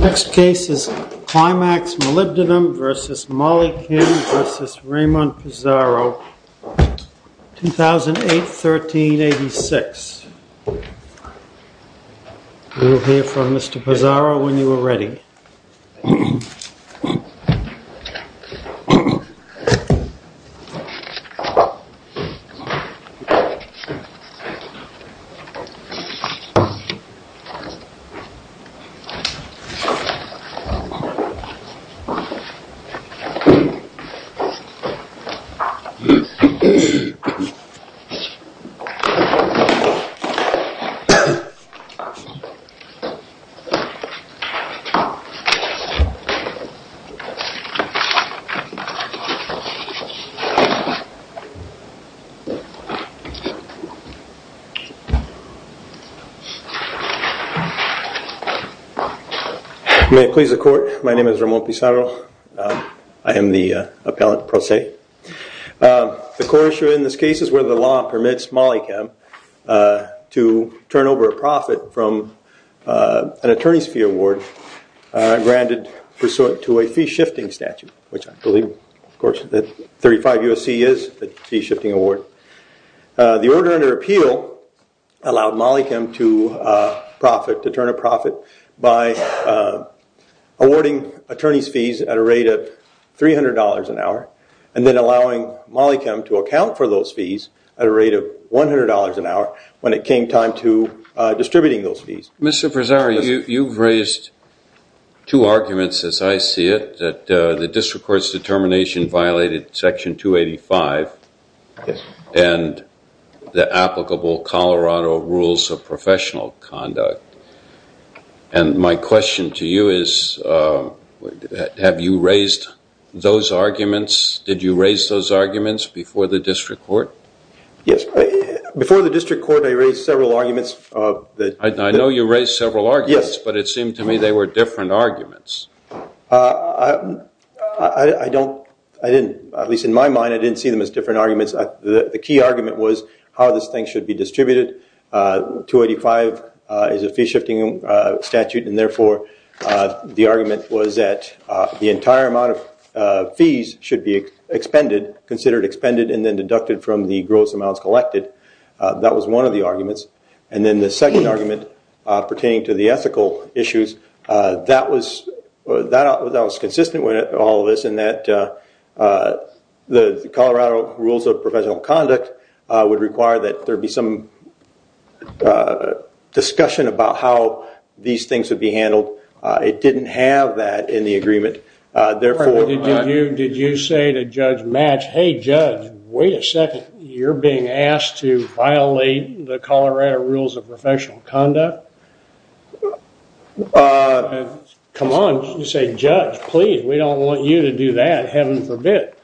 Next case is Climax Molybdenum v. Molychem v. Raymond Pizarro, 2008, 1386 We will hear from Mr. Pizarro when he will present his case. May it please the court, my name is Raymond Pizarro. I am the appellate pro se. The court issued in this case is whether the law permits Molychem to turn over a profit from an attorney's fee award granted pursuant to a fee shifting statute, which I believe, of course, that 35 U.S.C. is the fee shifting award. The order under appeal allowed Molychem to turn a profit by awarding attorney's fees at a rate of $300 an hour and then allowing Molychem to account for those fees at a rate of $100 an hour when it came time to distributing those fees. Mr. Pizarro, you've raised two arguments, as I see it, that the district court's determination violated section 285 and the applicable Colorado rules of professional conduct. And my question to you is, have you raised those arguments, did you raise those arguments before the district court? Yes, before the district court I raised several arguments. I know you raised several arguments, but it seemed to me they were different arguments. I didn't, at least in my mind, I didn't see them as different arguments. The key argument was how this thing should be distributed. 285 is a fee shifting statute, and therefore the argument was that the entire amount of fees should be expended, considered expended, and then deducted from the gross amounts collected. That was one of the arguments. And then the second argument pertaining to the ethical issues, that was consistent with all of this in that the Colorado rules of professional conduct would require that there be some discussion about how these things would be handled. It didn't have that in the agreement. Did you say to Judge Match, hey, Judge, wait a second, you're being asked to violate the Colorado rules of professional conduct? Come on, you say, Judge, please, we don't want you to do that, heaven forbid.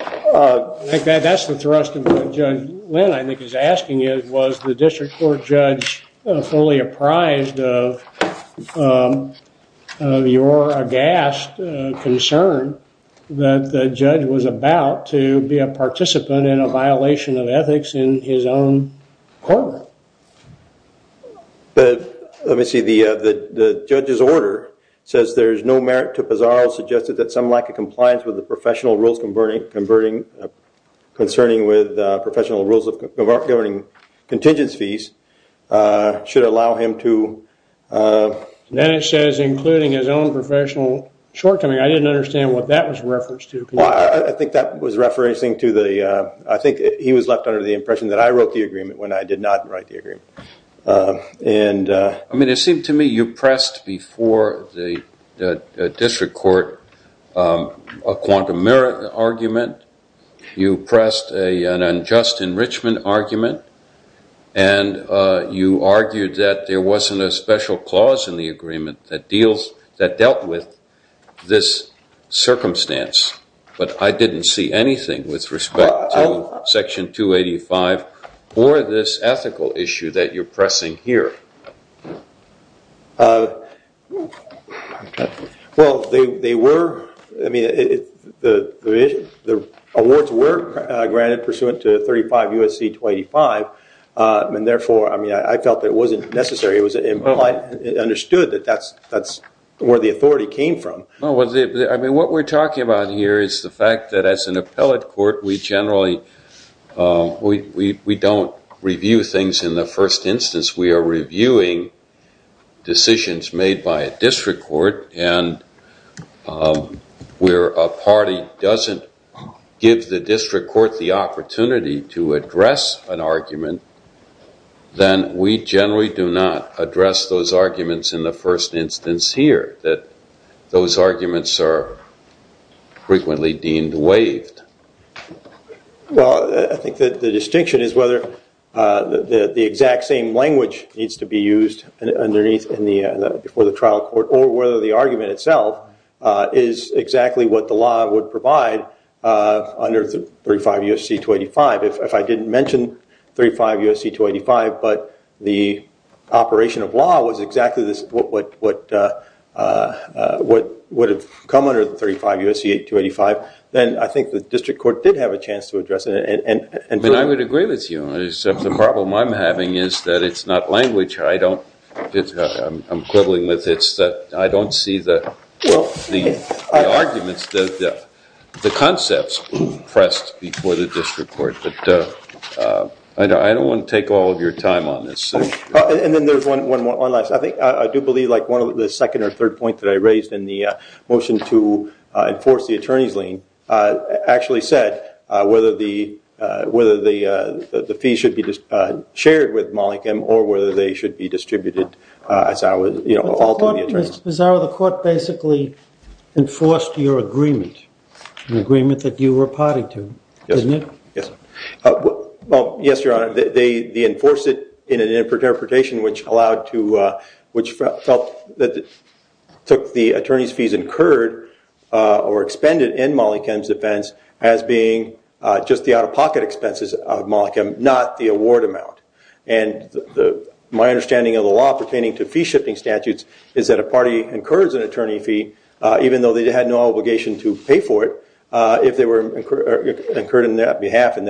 I think that's the thrust of what Judge Lynn, I think, is asking is, was the district court judge fully apprised of your aghast concern that the judge was about to be a participant in a violation of ethics in his own court? Let me see. The judge's order says there's no merit to Pizarro's suggestion that some lack of compliance with the professional rules concerning with professional rules of governing contingence fees should allow him to... Then it says including his own professional shortcoming. I didn't understand what that was referenced to. I think that was referencing to the... I think he was left under the impression that I wrote the agreement when I did not write the agreement. I mean, it seemed to me you pressed before the district court a quantum merit argument, you pressed an unjust enrichment argument, and you argued that there wasn't a special clause in the agreement that dealt with this circumstance, but I didn't see anything with respect to Section 285 or this ethical issue that you're pressing here. Well, they were, I mean, the awards were granted pursuant to 35 U.S.C. 285, and therefore, I mean, I felt that it wasn't necessary. It was understood that that's where the authority came from. Well, I mean, what we're talking about here is the fact that as an appellate court, we generally, we don't review things in the first instance. We are reviewing decisions made by a district court, and where a party doesn't give the district court the opportunity to address an argument, then we generally do not address those arguments in the first instance here, that those arguments are frequently deemed waived. Well, I think that the distinction is whether the exact same language needs to be used underneath, before the trial court, or whether the argument itself is exactly what the law would provide under 35 U.S.C. 285. If I didn't mention 35 U.S.C. 285, but the operation of law was exactly what would have come under 35 U.S.C. 285, then I think the district court did have a chance to address it. I mean, I would agree with you. The problem I'm having is that it's not language I don't, I'm quibbling with. It's that I don't see the arguments, the concepts pressed before the district court. But I don't want to take all of your time on this. And then there's one last, I think, I do believe like one of the second or third point that I raised in the motion to enforce the attorney's lien actually said whether the fees should be shared with Mollikin or whether they should be distributed as I was, you know, all to the attorneys. But the court, Mr. Pissarro, the court basically enforced your agreement, an agreement that you were party to, didn't it? Yes. Well, yes, Your Honor, they enforce it in an interpretation which allowed to, which felt that took the attorney's fees incurred or expended in Mollikin's defense as being just the out-of-pocket expenses of Mollikin, not the award amount. And my understanding of the law pertaining to fee-shifting statutes is that a party incurs an attorney fee, even though they had no obligation to pay for it, if they were incurred on behalf of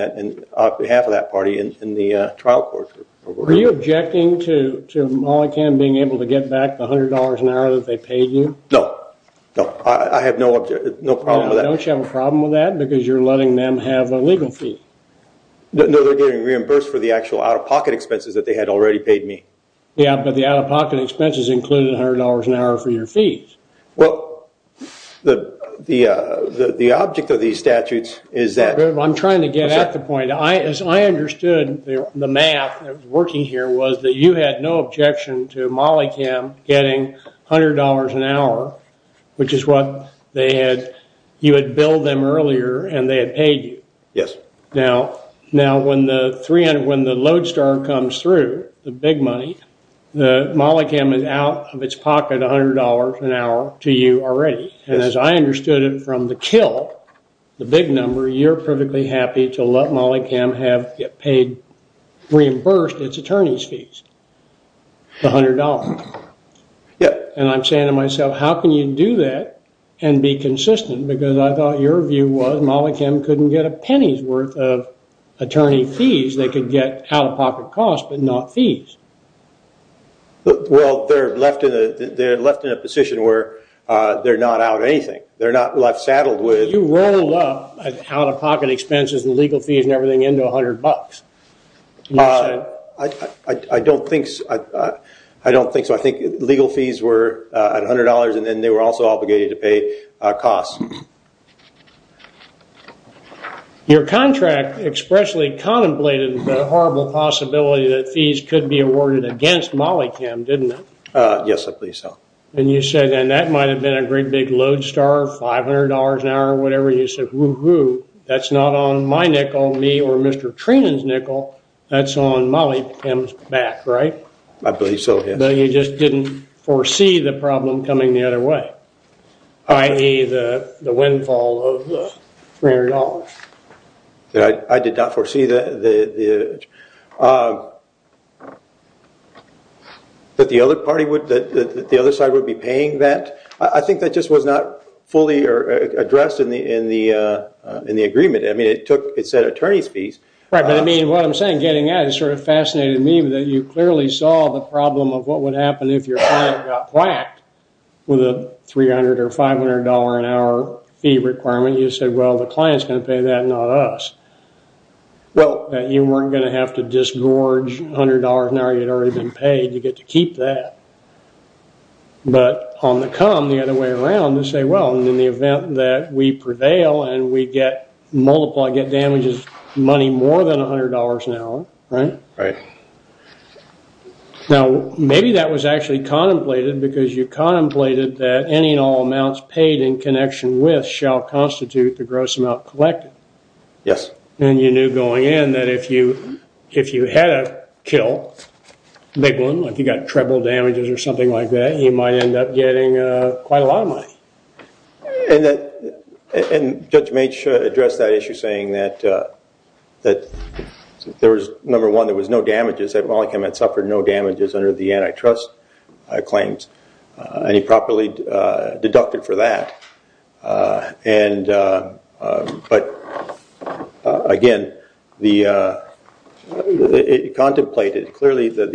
that party in the trial court. Were you objecting to Mollikin being able to get back the $100 an hour that they paid you? No, no, I have no problem with that. Don't you have a problem with that because you're letting them have a legal fee? No, they're getting reimbursed for the actual out-of-pocket expenses that they had already paid me. Yeah, but the out-of-pocket expenses included $100 an hour for your fees. Well, the object of these statutes is that. I'm trying to get at the point. I understood the math that was working here was that you had no objection to Mollikin getting $100 an hour, which is what they had, you had billed them earlier and they had paid you. Yes. Now, when the Lodestar comes through, the big money, Mollikin is out of its pocket $100 an hour to you already. And as I understood it from the kill, the big number, you're perfectly happy to let Mollikin have it paid, reimbursed its attorney's fees, the $100. Yeah. And I'm saying to myself, how can you do that and be consistent? Because I thought your view was Mollikin couldn't get a penny's worth of attorney fees. They could get out-of-pocket costs but not fees. Well, they're left in a position where they're not out of anything. They're not left saddled with. You rolled up out-of-pocket expenses and legal fees and everything into $100. I don't think so. I think legal fees were at $100 and then they were also obligated to pay costs. Your contract expressly contemplated the horrible possibility that fees could be awarded against Mollikin, didn't it? Yes, I believe so. And you said, and that might have been a great big Lodestar, $500 an hour or whatever, you said, woo-hoo, that's not on my nickel, me, or Mr. Treenan's nickel, that's on Mollikin's back, right? I believe so, yes. But you just didn't foresee the problem coming the other way, i.e., the windfall of the $300. I did not foresee that the other party would, that the other side would be paying that. I think that just was not fully addressed in the agreement. I mean, it said attorney's fees. Right, but I mean, what I'm saying, getting at it, it sort of fascinated me that you clearly saw the problem of what would happen if your client got whacked with a $300 or $500 an hour fee requirement. You said, well, the client's going to pay that, not us, that you weren't going to have to disgorge $100 an hour you'd already been paid. You get to keep that. But on the come, the other way around, you say, well, in the event that we prevail and we multiply, get damages, money more than $100 an hour, right? Right. Now, maybe that was actually contemplated because you contemplated that any and all amounts paid in connection with shall constitute the gross amount collected. Yes. And you knew going in that if you had a kill, a big one, like you got treble damages or something like that, you might end up getting quite a lot of money. And Judge Maitch addressed that issue saying that there was, number one, there was no damages, that Mollenkamp had suffered no damages under the antitrust claims. And he properly deducted for that. But again, the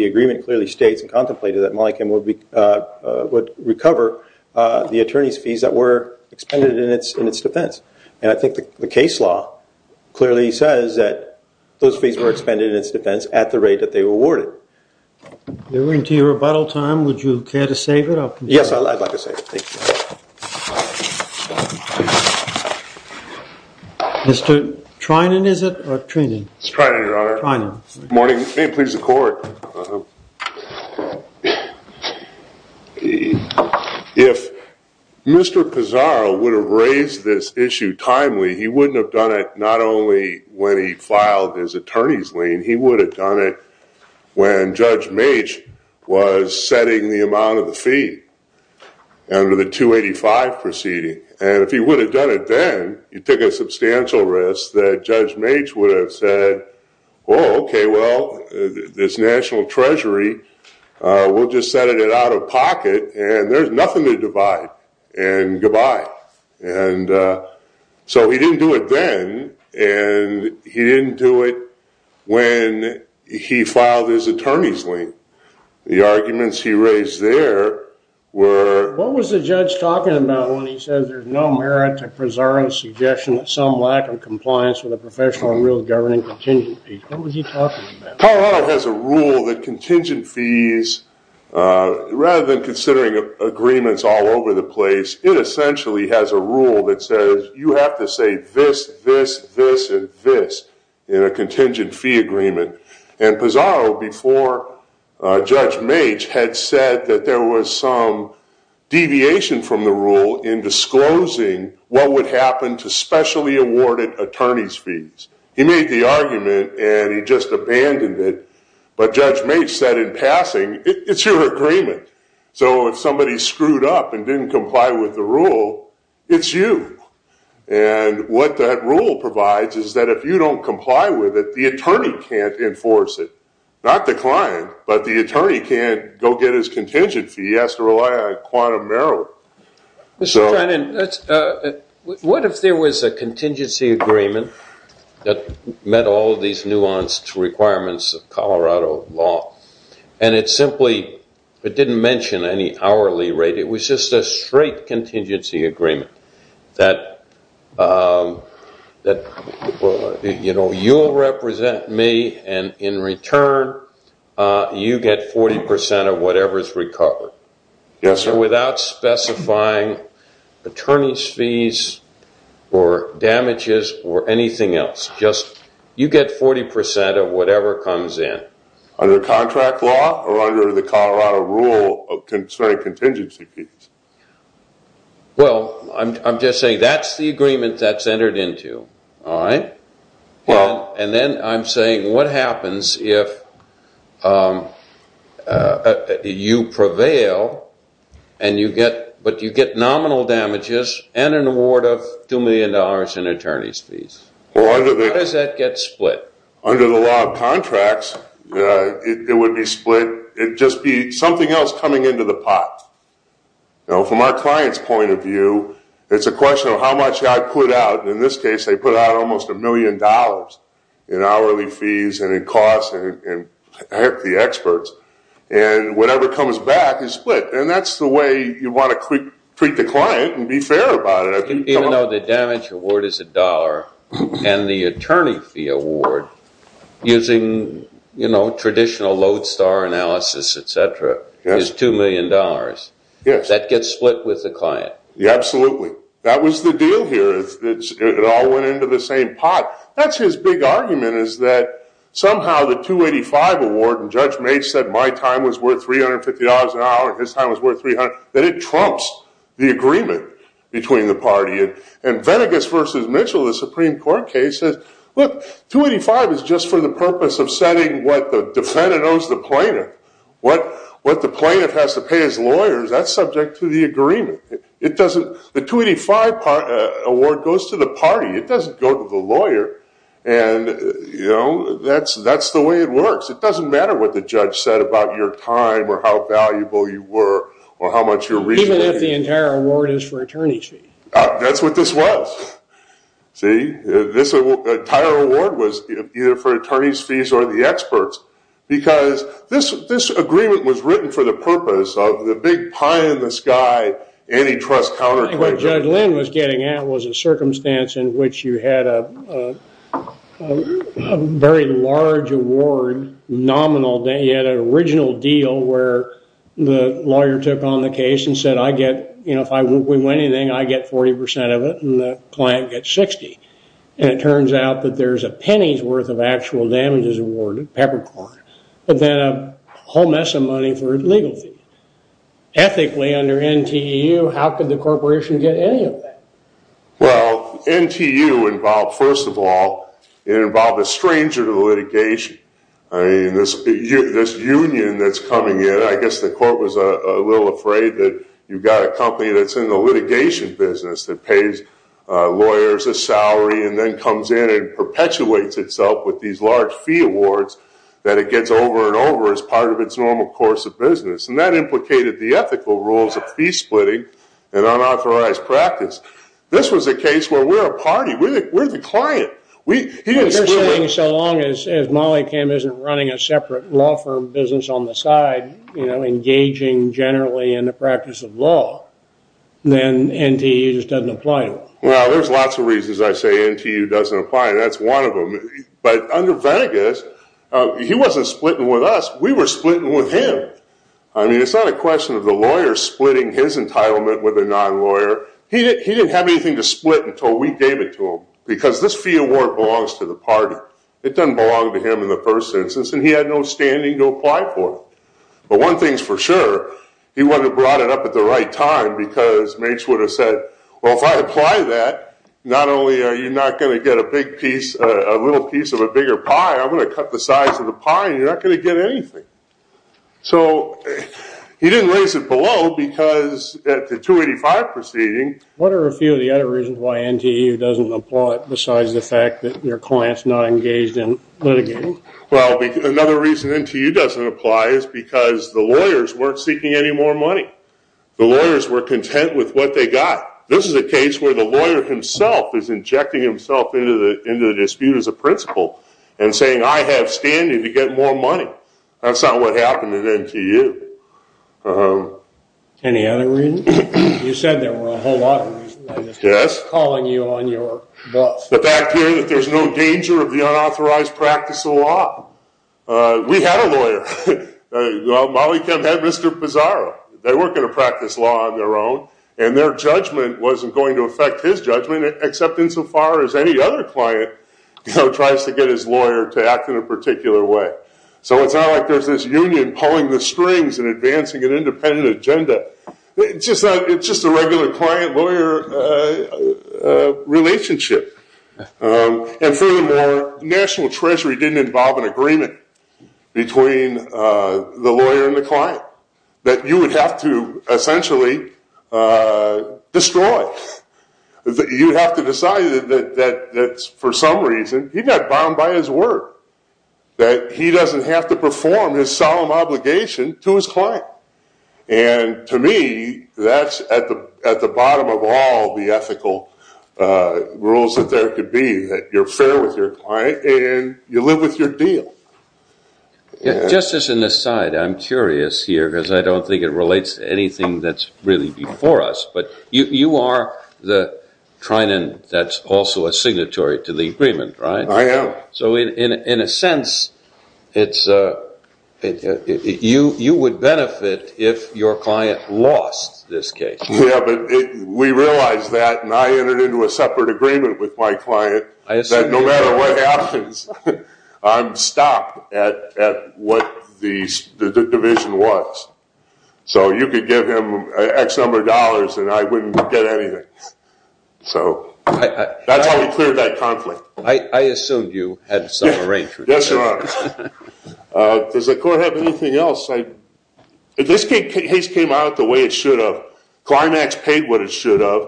agreement clearly states and contemplated that Mollenkamp would recover the attorney's fees that were expended in its defense. And I think the case law clearly says that those fees were expended in its defense at the rate that they were awarded. We're into your rebuttal time. Would you care to save it? Yes, I'd like to save it. Thank you. Mr. Treinen, is it, or Treinen? It's Treinen, Your Honor. Treinen. Good morning. Please, the court. If Mr. Pizarro would have raised this issue timely, he wouldn't have done it not only when he filed his attorney's lien. He would have done it when Judge Maitch was setting the amount of the fee. Under the 285 proceeding. And if he would have done it then, he took a substantial risk that Judge Maitch would have said, oh, okay, well, this national treasury, we'll just set it out of pocket, and there's nothing to divide. And goodbye. And so he didn't do it then, and he didn't do it when he filed his attorney's lien. The arguments he raised there were. What was the judge talking about when he said there's no merit to Pizarro's suggestion that some lack of compliance with a professional and real governing contingent fee? What was he talking about? Colorado has a rule that contingent fees, rather than considering agreements all over the place, it essentially has a rule that says you have to say this, this, this, and this in a contingent fee agreement. And Pizarro, before Judge Maitch, had said that there was some deviation from the rule in disclosing what would happen to specially awarded attorney's fees. He made the argument, and he just abandoned it. But Judge Maitch said in passing, it's your agreement. So if somebody screwed up and didn't comply with the rule, it's you. And what that rule provides is that if you don't comply with it, the attorney can't enforce it. Not the client, but the attorney can't go get his contingent fee. He has to rely on a quantum merit. Mr. Trennan, what if there was a contingency agreement that met all of these nuanced requirements of Colorado law, and it simply didn't mention any hourly rate? It was just a straight contingency agreement that, you know, you'll represent me, and in return, you get 40% of whatever is recovered. Yes, sir. Without specifying attorney's fees or damages or anything else. You get 40% of whatever comes in. Under contract law or under the Colorado rule of straight contingency fees? Well, I'm just saying that's the agreement that's entered into, all right? And then I'm saying what happens if you prevail, but you get nominal damages and an award of $2 million in attorney's fees? How does that get split? Under the law of contracts, it would be split. It would just be something else coming into the pot. You know, from our client's point of view, it's a question of how much I put out. In this case, they put out almost $1 million in hourly fees and in costs and the experts, and whatever comes back is split, and that's the way you want to treat the client and be fair about it. Even though the damage award is $1 and the attorney fee award, using traditional lodestar analysis, et cetera, is $2 million. Yes. That gets split with the client. Absolutely. That was the deal here. It all went into the same pot. That's his big argument is that somehow the 285 award, and Judge Maitz said my time was worth $350 an hour and his time was worth $300, that it trumps the agreement between the party. And Venegas v. Mitchell, the Supreme Court case, says, look, 285 is just for the purpose of setting what the defendant owes the plaintiff. What the plaintiff has to pay his lawyers, that's subject to the agreement. The 285 award goes to the party. It doesn't go to the lawyer, and, you know, that's the way it works. It doesn't matter what the judge said about your time or how valuable you were or how much your reason was. Even if the entire award is for attorney's fee. That's what this was. See? This entire award was either for attorney's fees or the experts because this agreement was written for the purpose of the big pie in the sky, antitrust counterclaim. I think what Judge Lynn was getting at was a circumstance in which you had a very large award nominal. You had an original deal where the lawyer took on the case and said, I get, you know, if we win anything, I get 40% of it, and the client gets 60. And it turns out that there's a penny's worth of actual damages awarded, peppercorn, but then a whole mess of money for legal fees. Ethically, under NTU, how could the corporation get any of that? Well, NTU involved, first of all, it involved a stranger to litigation. I mean, this union that's coming in, I guess the court was a little afraid that you've got a company that's in the litigation business that pays lawyers a salary and then comes in and perpetuates itself with these large fee awards that it gets over and over as part of its normal course of business. And that implicated the ethical rules of fee splitting and unauthorized practice. This was a case where we're a party. We're the client. You're saying so long as Molly Kim isn't running a separate law firm business on the side, you know, engaging generally in the practice of law, then NTU just doesn't apply to them. Well, there's lots of reasons I say NTU doesn't apply. That's one of them. But under Venegas, he wasn't splitting with us. We were splitting with him. I mean, it's not a question of the lawyer splitting his entitlement with a non-lawyer. He didn't have anything to split until we gave it to him because this fee award belongs to the party. It doesn't belong to him in the first instance, and he had no standing to apply for it. But one thing's for sure, he would have brought it up at the right time because Mates would have said, well, if I apply that, not only are you not going to get a big piece, a little piece of a bigger pie, I'm going to cut the size of the pie and you're not going to get anything. So he didn't raise it below because at the 285 proceeding. What are a few of the other reasons why NTU doesn't apply besides the fact that your client's not engaged in litigating? Well, another reason NTU doesn't apply is because the lawyers weren't seeking any more money. The lawyers were content with what they got. This is a case where the lawyer himself is injecting himself into the dispute as a principal and saying, I have standing to get more money. That's not what happened at NTU. Any other reasons? You said there were a whole lot of reasons. Yes. Calling you on your bluff. The fact here that there's no danger of the unauthorized practice of law. We had a lawyer. Molly Kemp had Mr. Pizarro. They weren't going to practice law on their own, and their judgment wasn't going to affect his judgment except insofar as any other client tries to get his lawyer to act in a particular way. So it's not like there's this union pulling the strings and advancing an independent agenda. It's just a regular client-lawyer relationship. And furthermore, National Treasury didn't involve an agreement between the lawyer and the client that you would have to essentially destroy. You would have to decide that for some reason he got bound by his word, that he doesn't have to perform his solemn obligation to his client. And to me, that's at the bottom of all the ethical rules that there could be, that you're fair with your client and you live with your deal. Justice, in this side, I'm curious here because I don't think it relates to anything that's really before us. But you are the trinent that's also a signatory to the agreement, right? I am. So in a sense, you would benefit if your client lost this case. Yeah, but we realized that, and I entered into a separate agreement with my I'm stopped at what the division was. So you could give him X number of dollars and I wouldn't get anything. So that's how we cleared that conflict. I assumed you had some arrangement. Yes, Your Honor. Does the court have anything else? If this case came out the way it should have, Climax paid what it should have,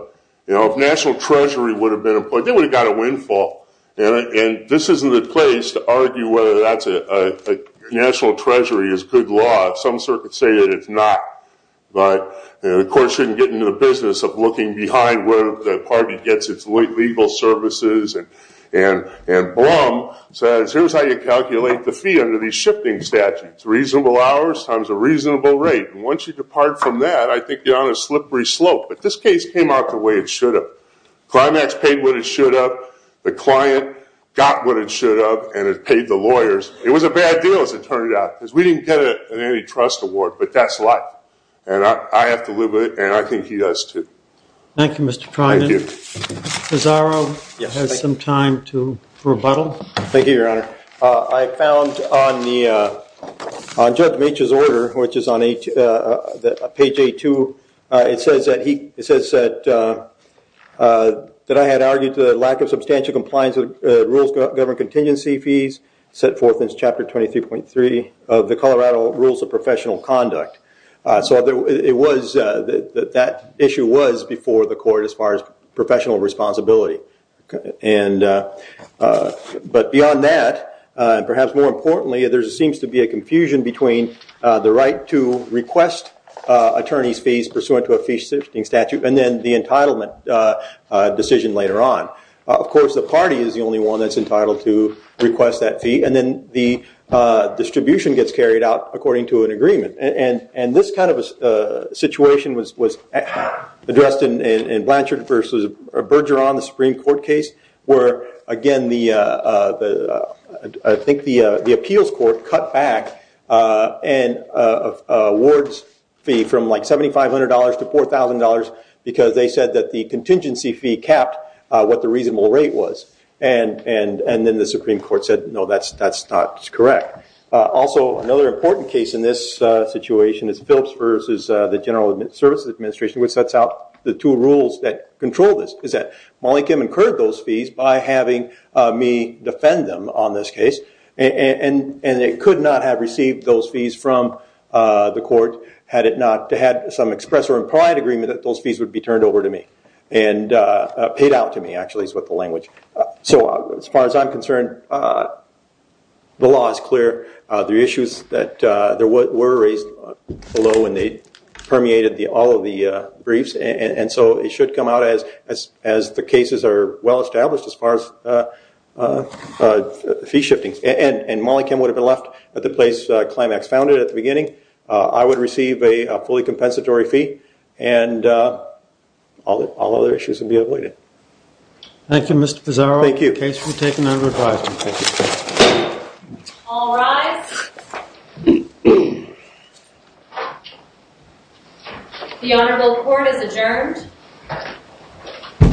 if National Treasury would have been employed, they would have got a windfall. And this isn't the place to argue whether National Treasury is good law. Some circuits say that it's not. But the court shouldn't get into the business of looking behind where the party gets its legal services. And Blum says, here's how you calculate the fee under these shifting statutes, reasonable hours times a reasonable rate. And once you depart from that, I think you're on a slippery slope. But this case came out the way it should have. Climax paid what it should have. The client got what it should have, and it paid the lawyers. It was a bad deal, as it turned out, because we didn't get an antitrust award. But that's life. And I have to live with it, and I think he does, too. Thank you, Mr. Treinen. Thank you. Pizarro has some time to rebuttal. Thank you, Your Honor. I found on Judge Meech's order, which is on page 8-2, it says that I had argued to the lack of substantial compliance with rules governing contingency fees set forth in Chapter 23.3 of the Colorado Rules of Professional Conduct. So that issue was before the court as far as professional responsibility. But beyond that, and perhaps more importantly, there seems to be a confusion between the right to request attorney's fees pursuant to a fee-substituting statute and then the entitlement decision later on. Of course, the party is the only one that's entitled to request that fee, and then the distribution gets carried out according to an agreement. And this kind of a situation was addressed in Blanchard v. Bergeron, the Supreme Court case, where, again, I think the appeals court cut back an awards fee from like $7,500 to $4,000 because they said that the contingency fee capped what the reasonable rate was. And then the Supreme Court said, no, that's not correct. Also, another important case in this situation is Phillips v. the General Services Administration, which sets out the two rules that control this, is that Malikim incurred those fees by having me defend them on this case, and it could not have received those fees from the court had it not had some express or implied agreement that those fees would be turned over to me and paid out to me, actually, is what the language. So as far as I'm concerned, the law is clear. The issues that were raised below and they permeated all of the briefs, and so it should come out as the cases are well established as far as fee shifting. And Malikim would have been left at the place Climax founded at the beginning. I would receive a fully compensatory fee, and all other issues would be avoided. Thank you, Mr. Pizzaro. Thank you. Case will be taken under advisement. Thank you. All rise. The Honorable Court is adjourned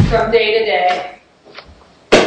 from day to day.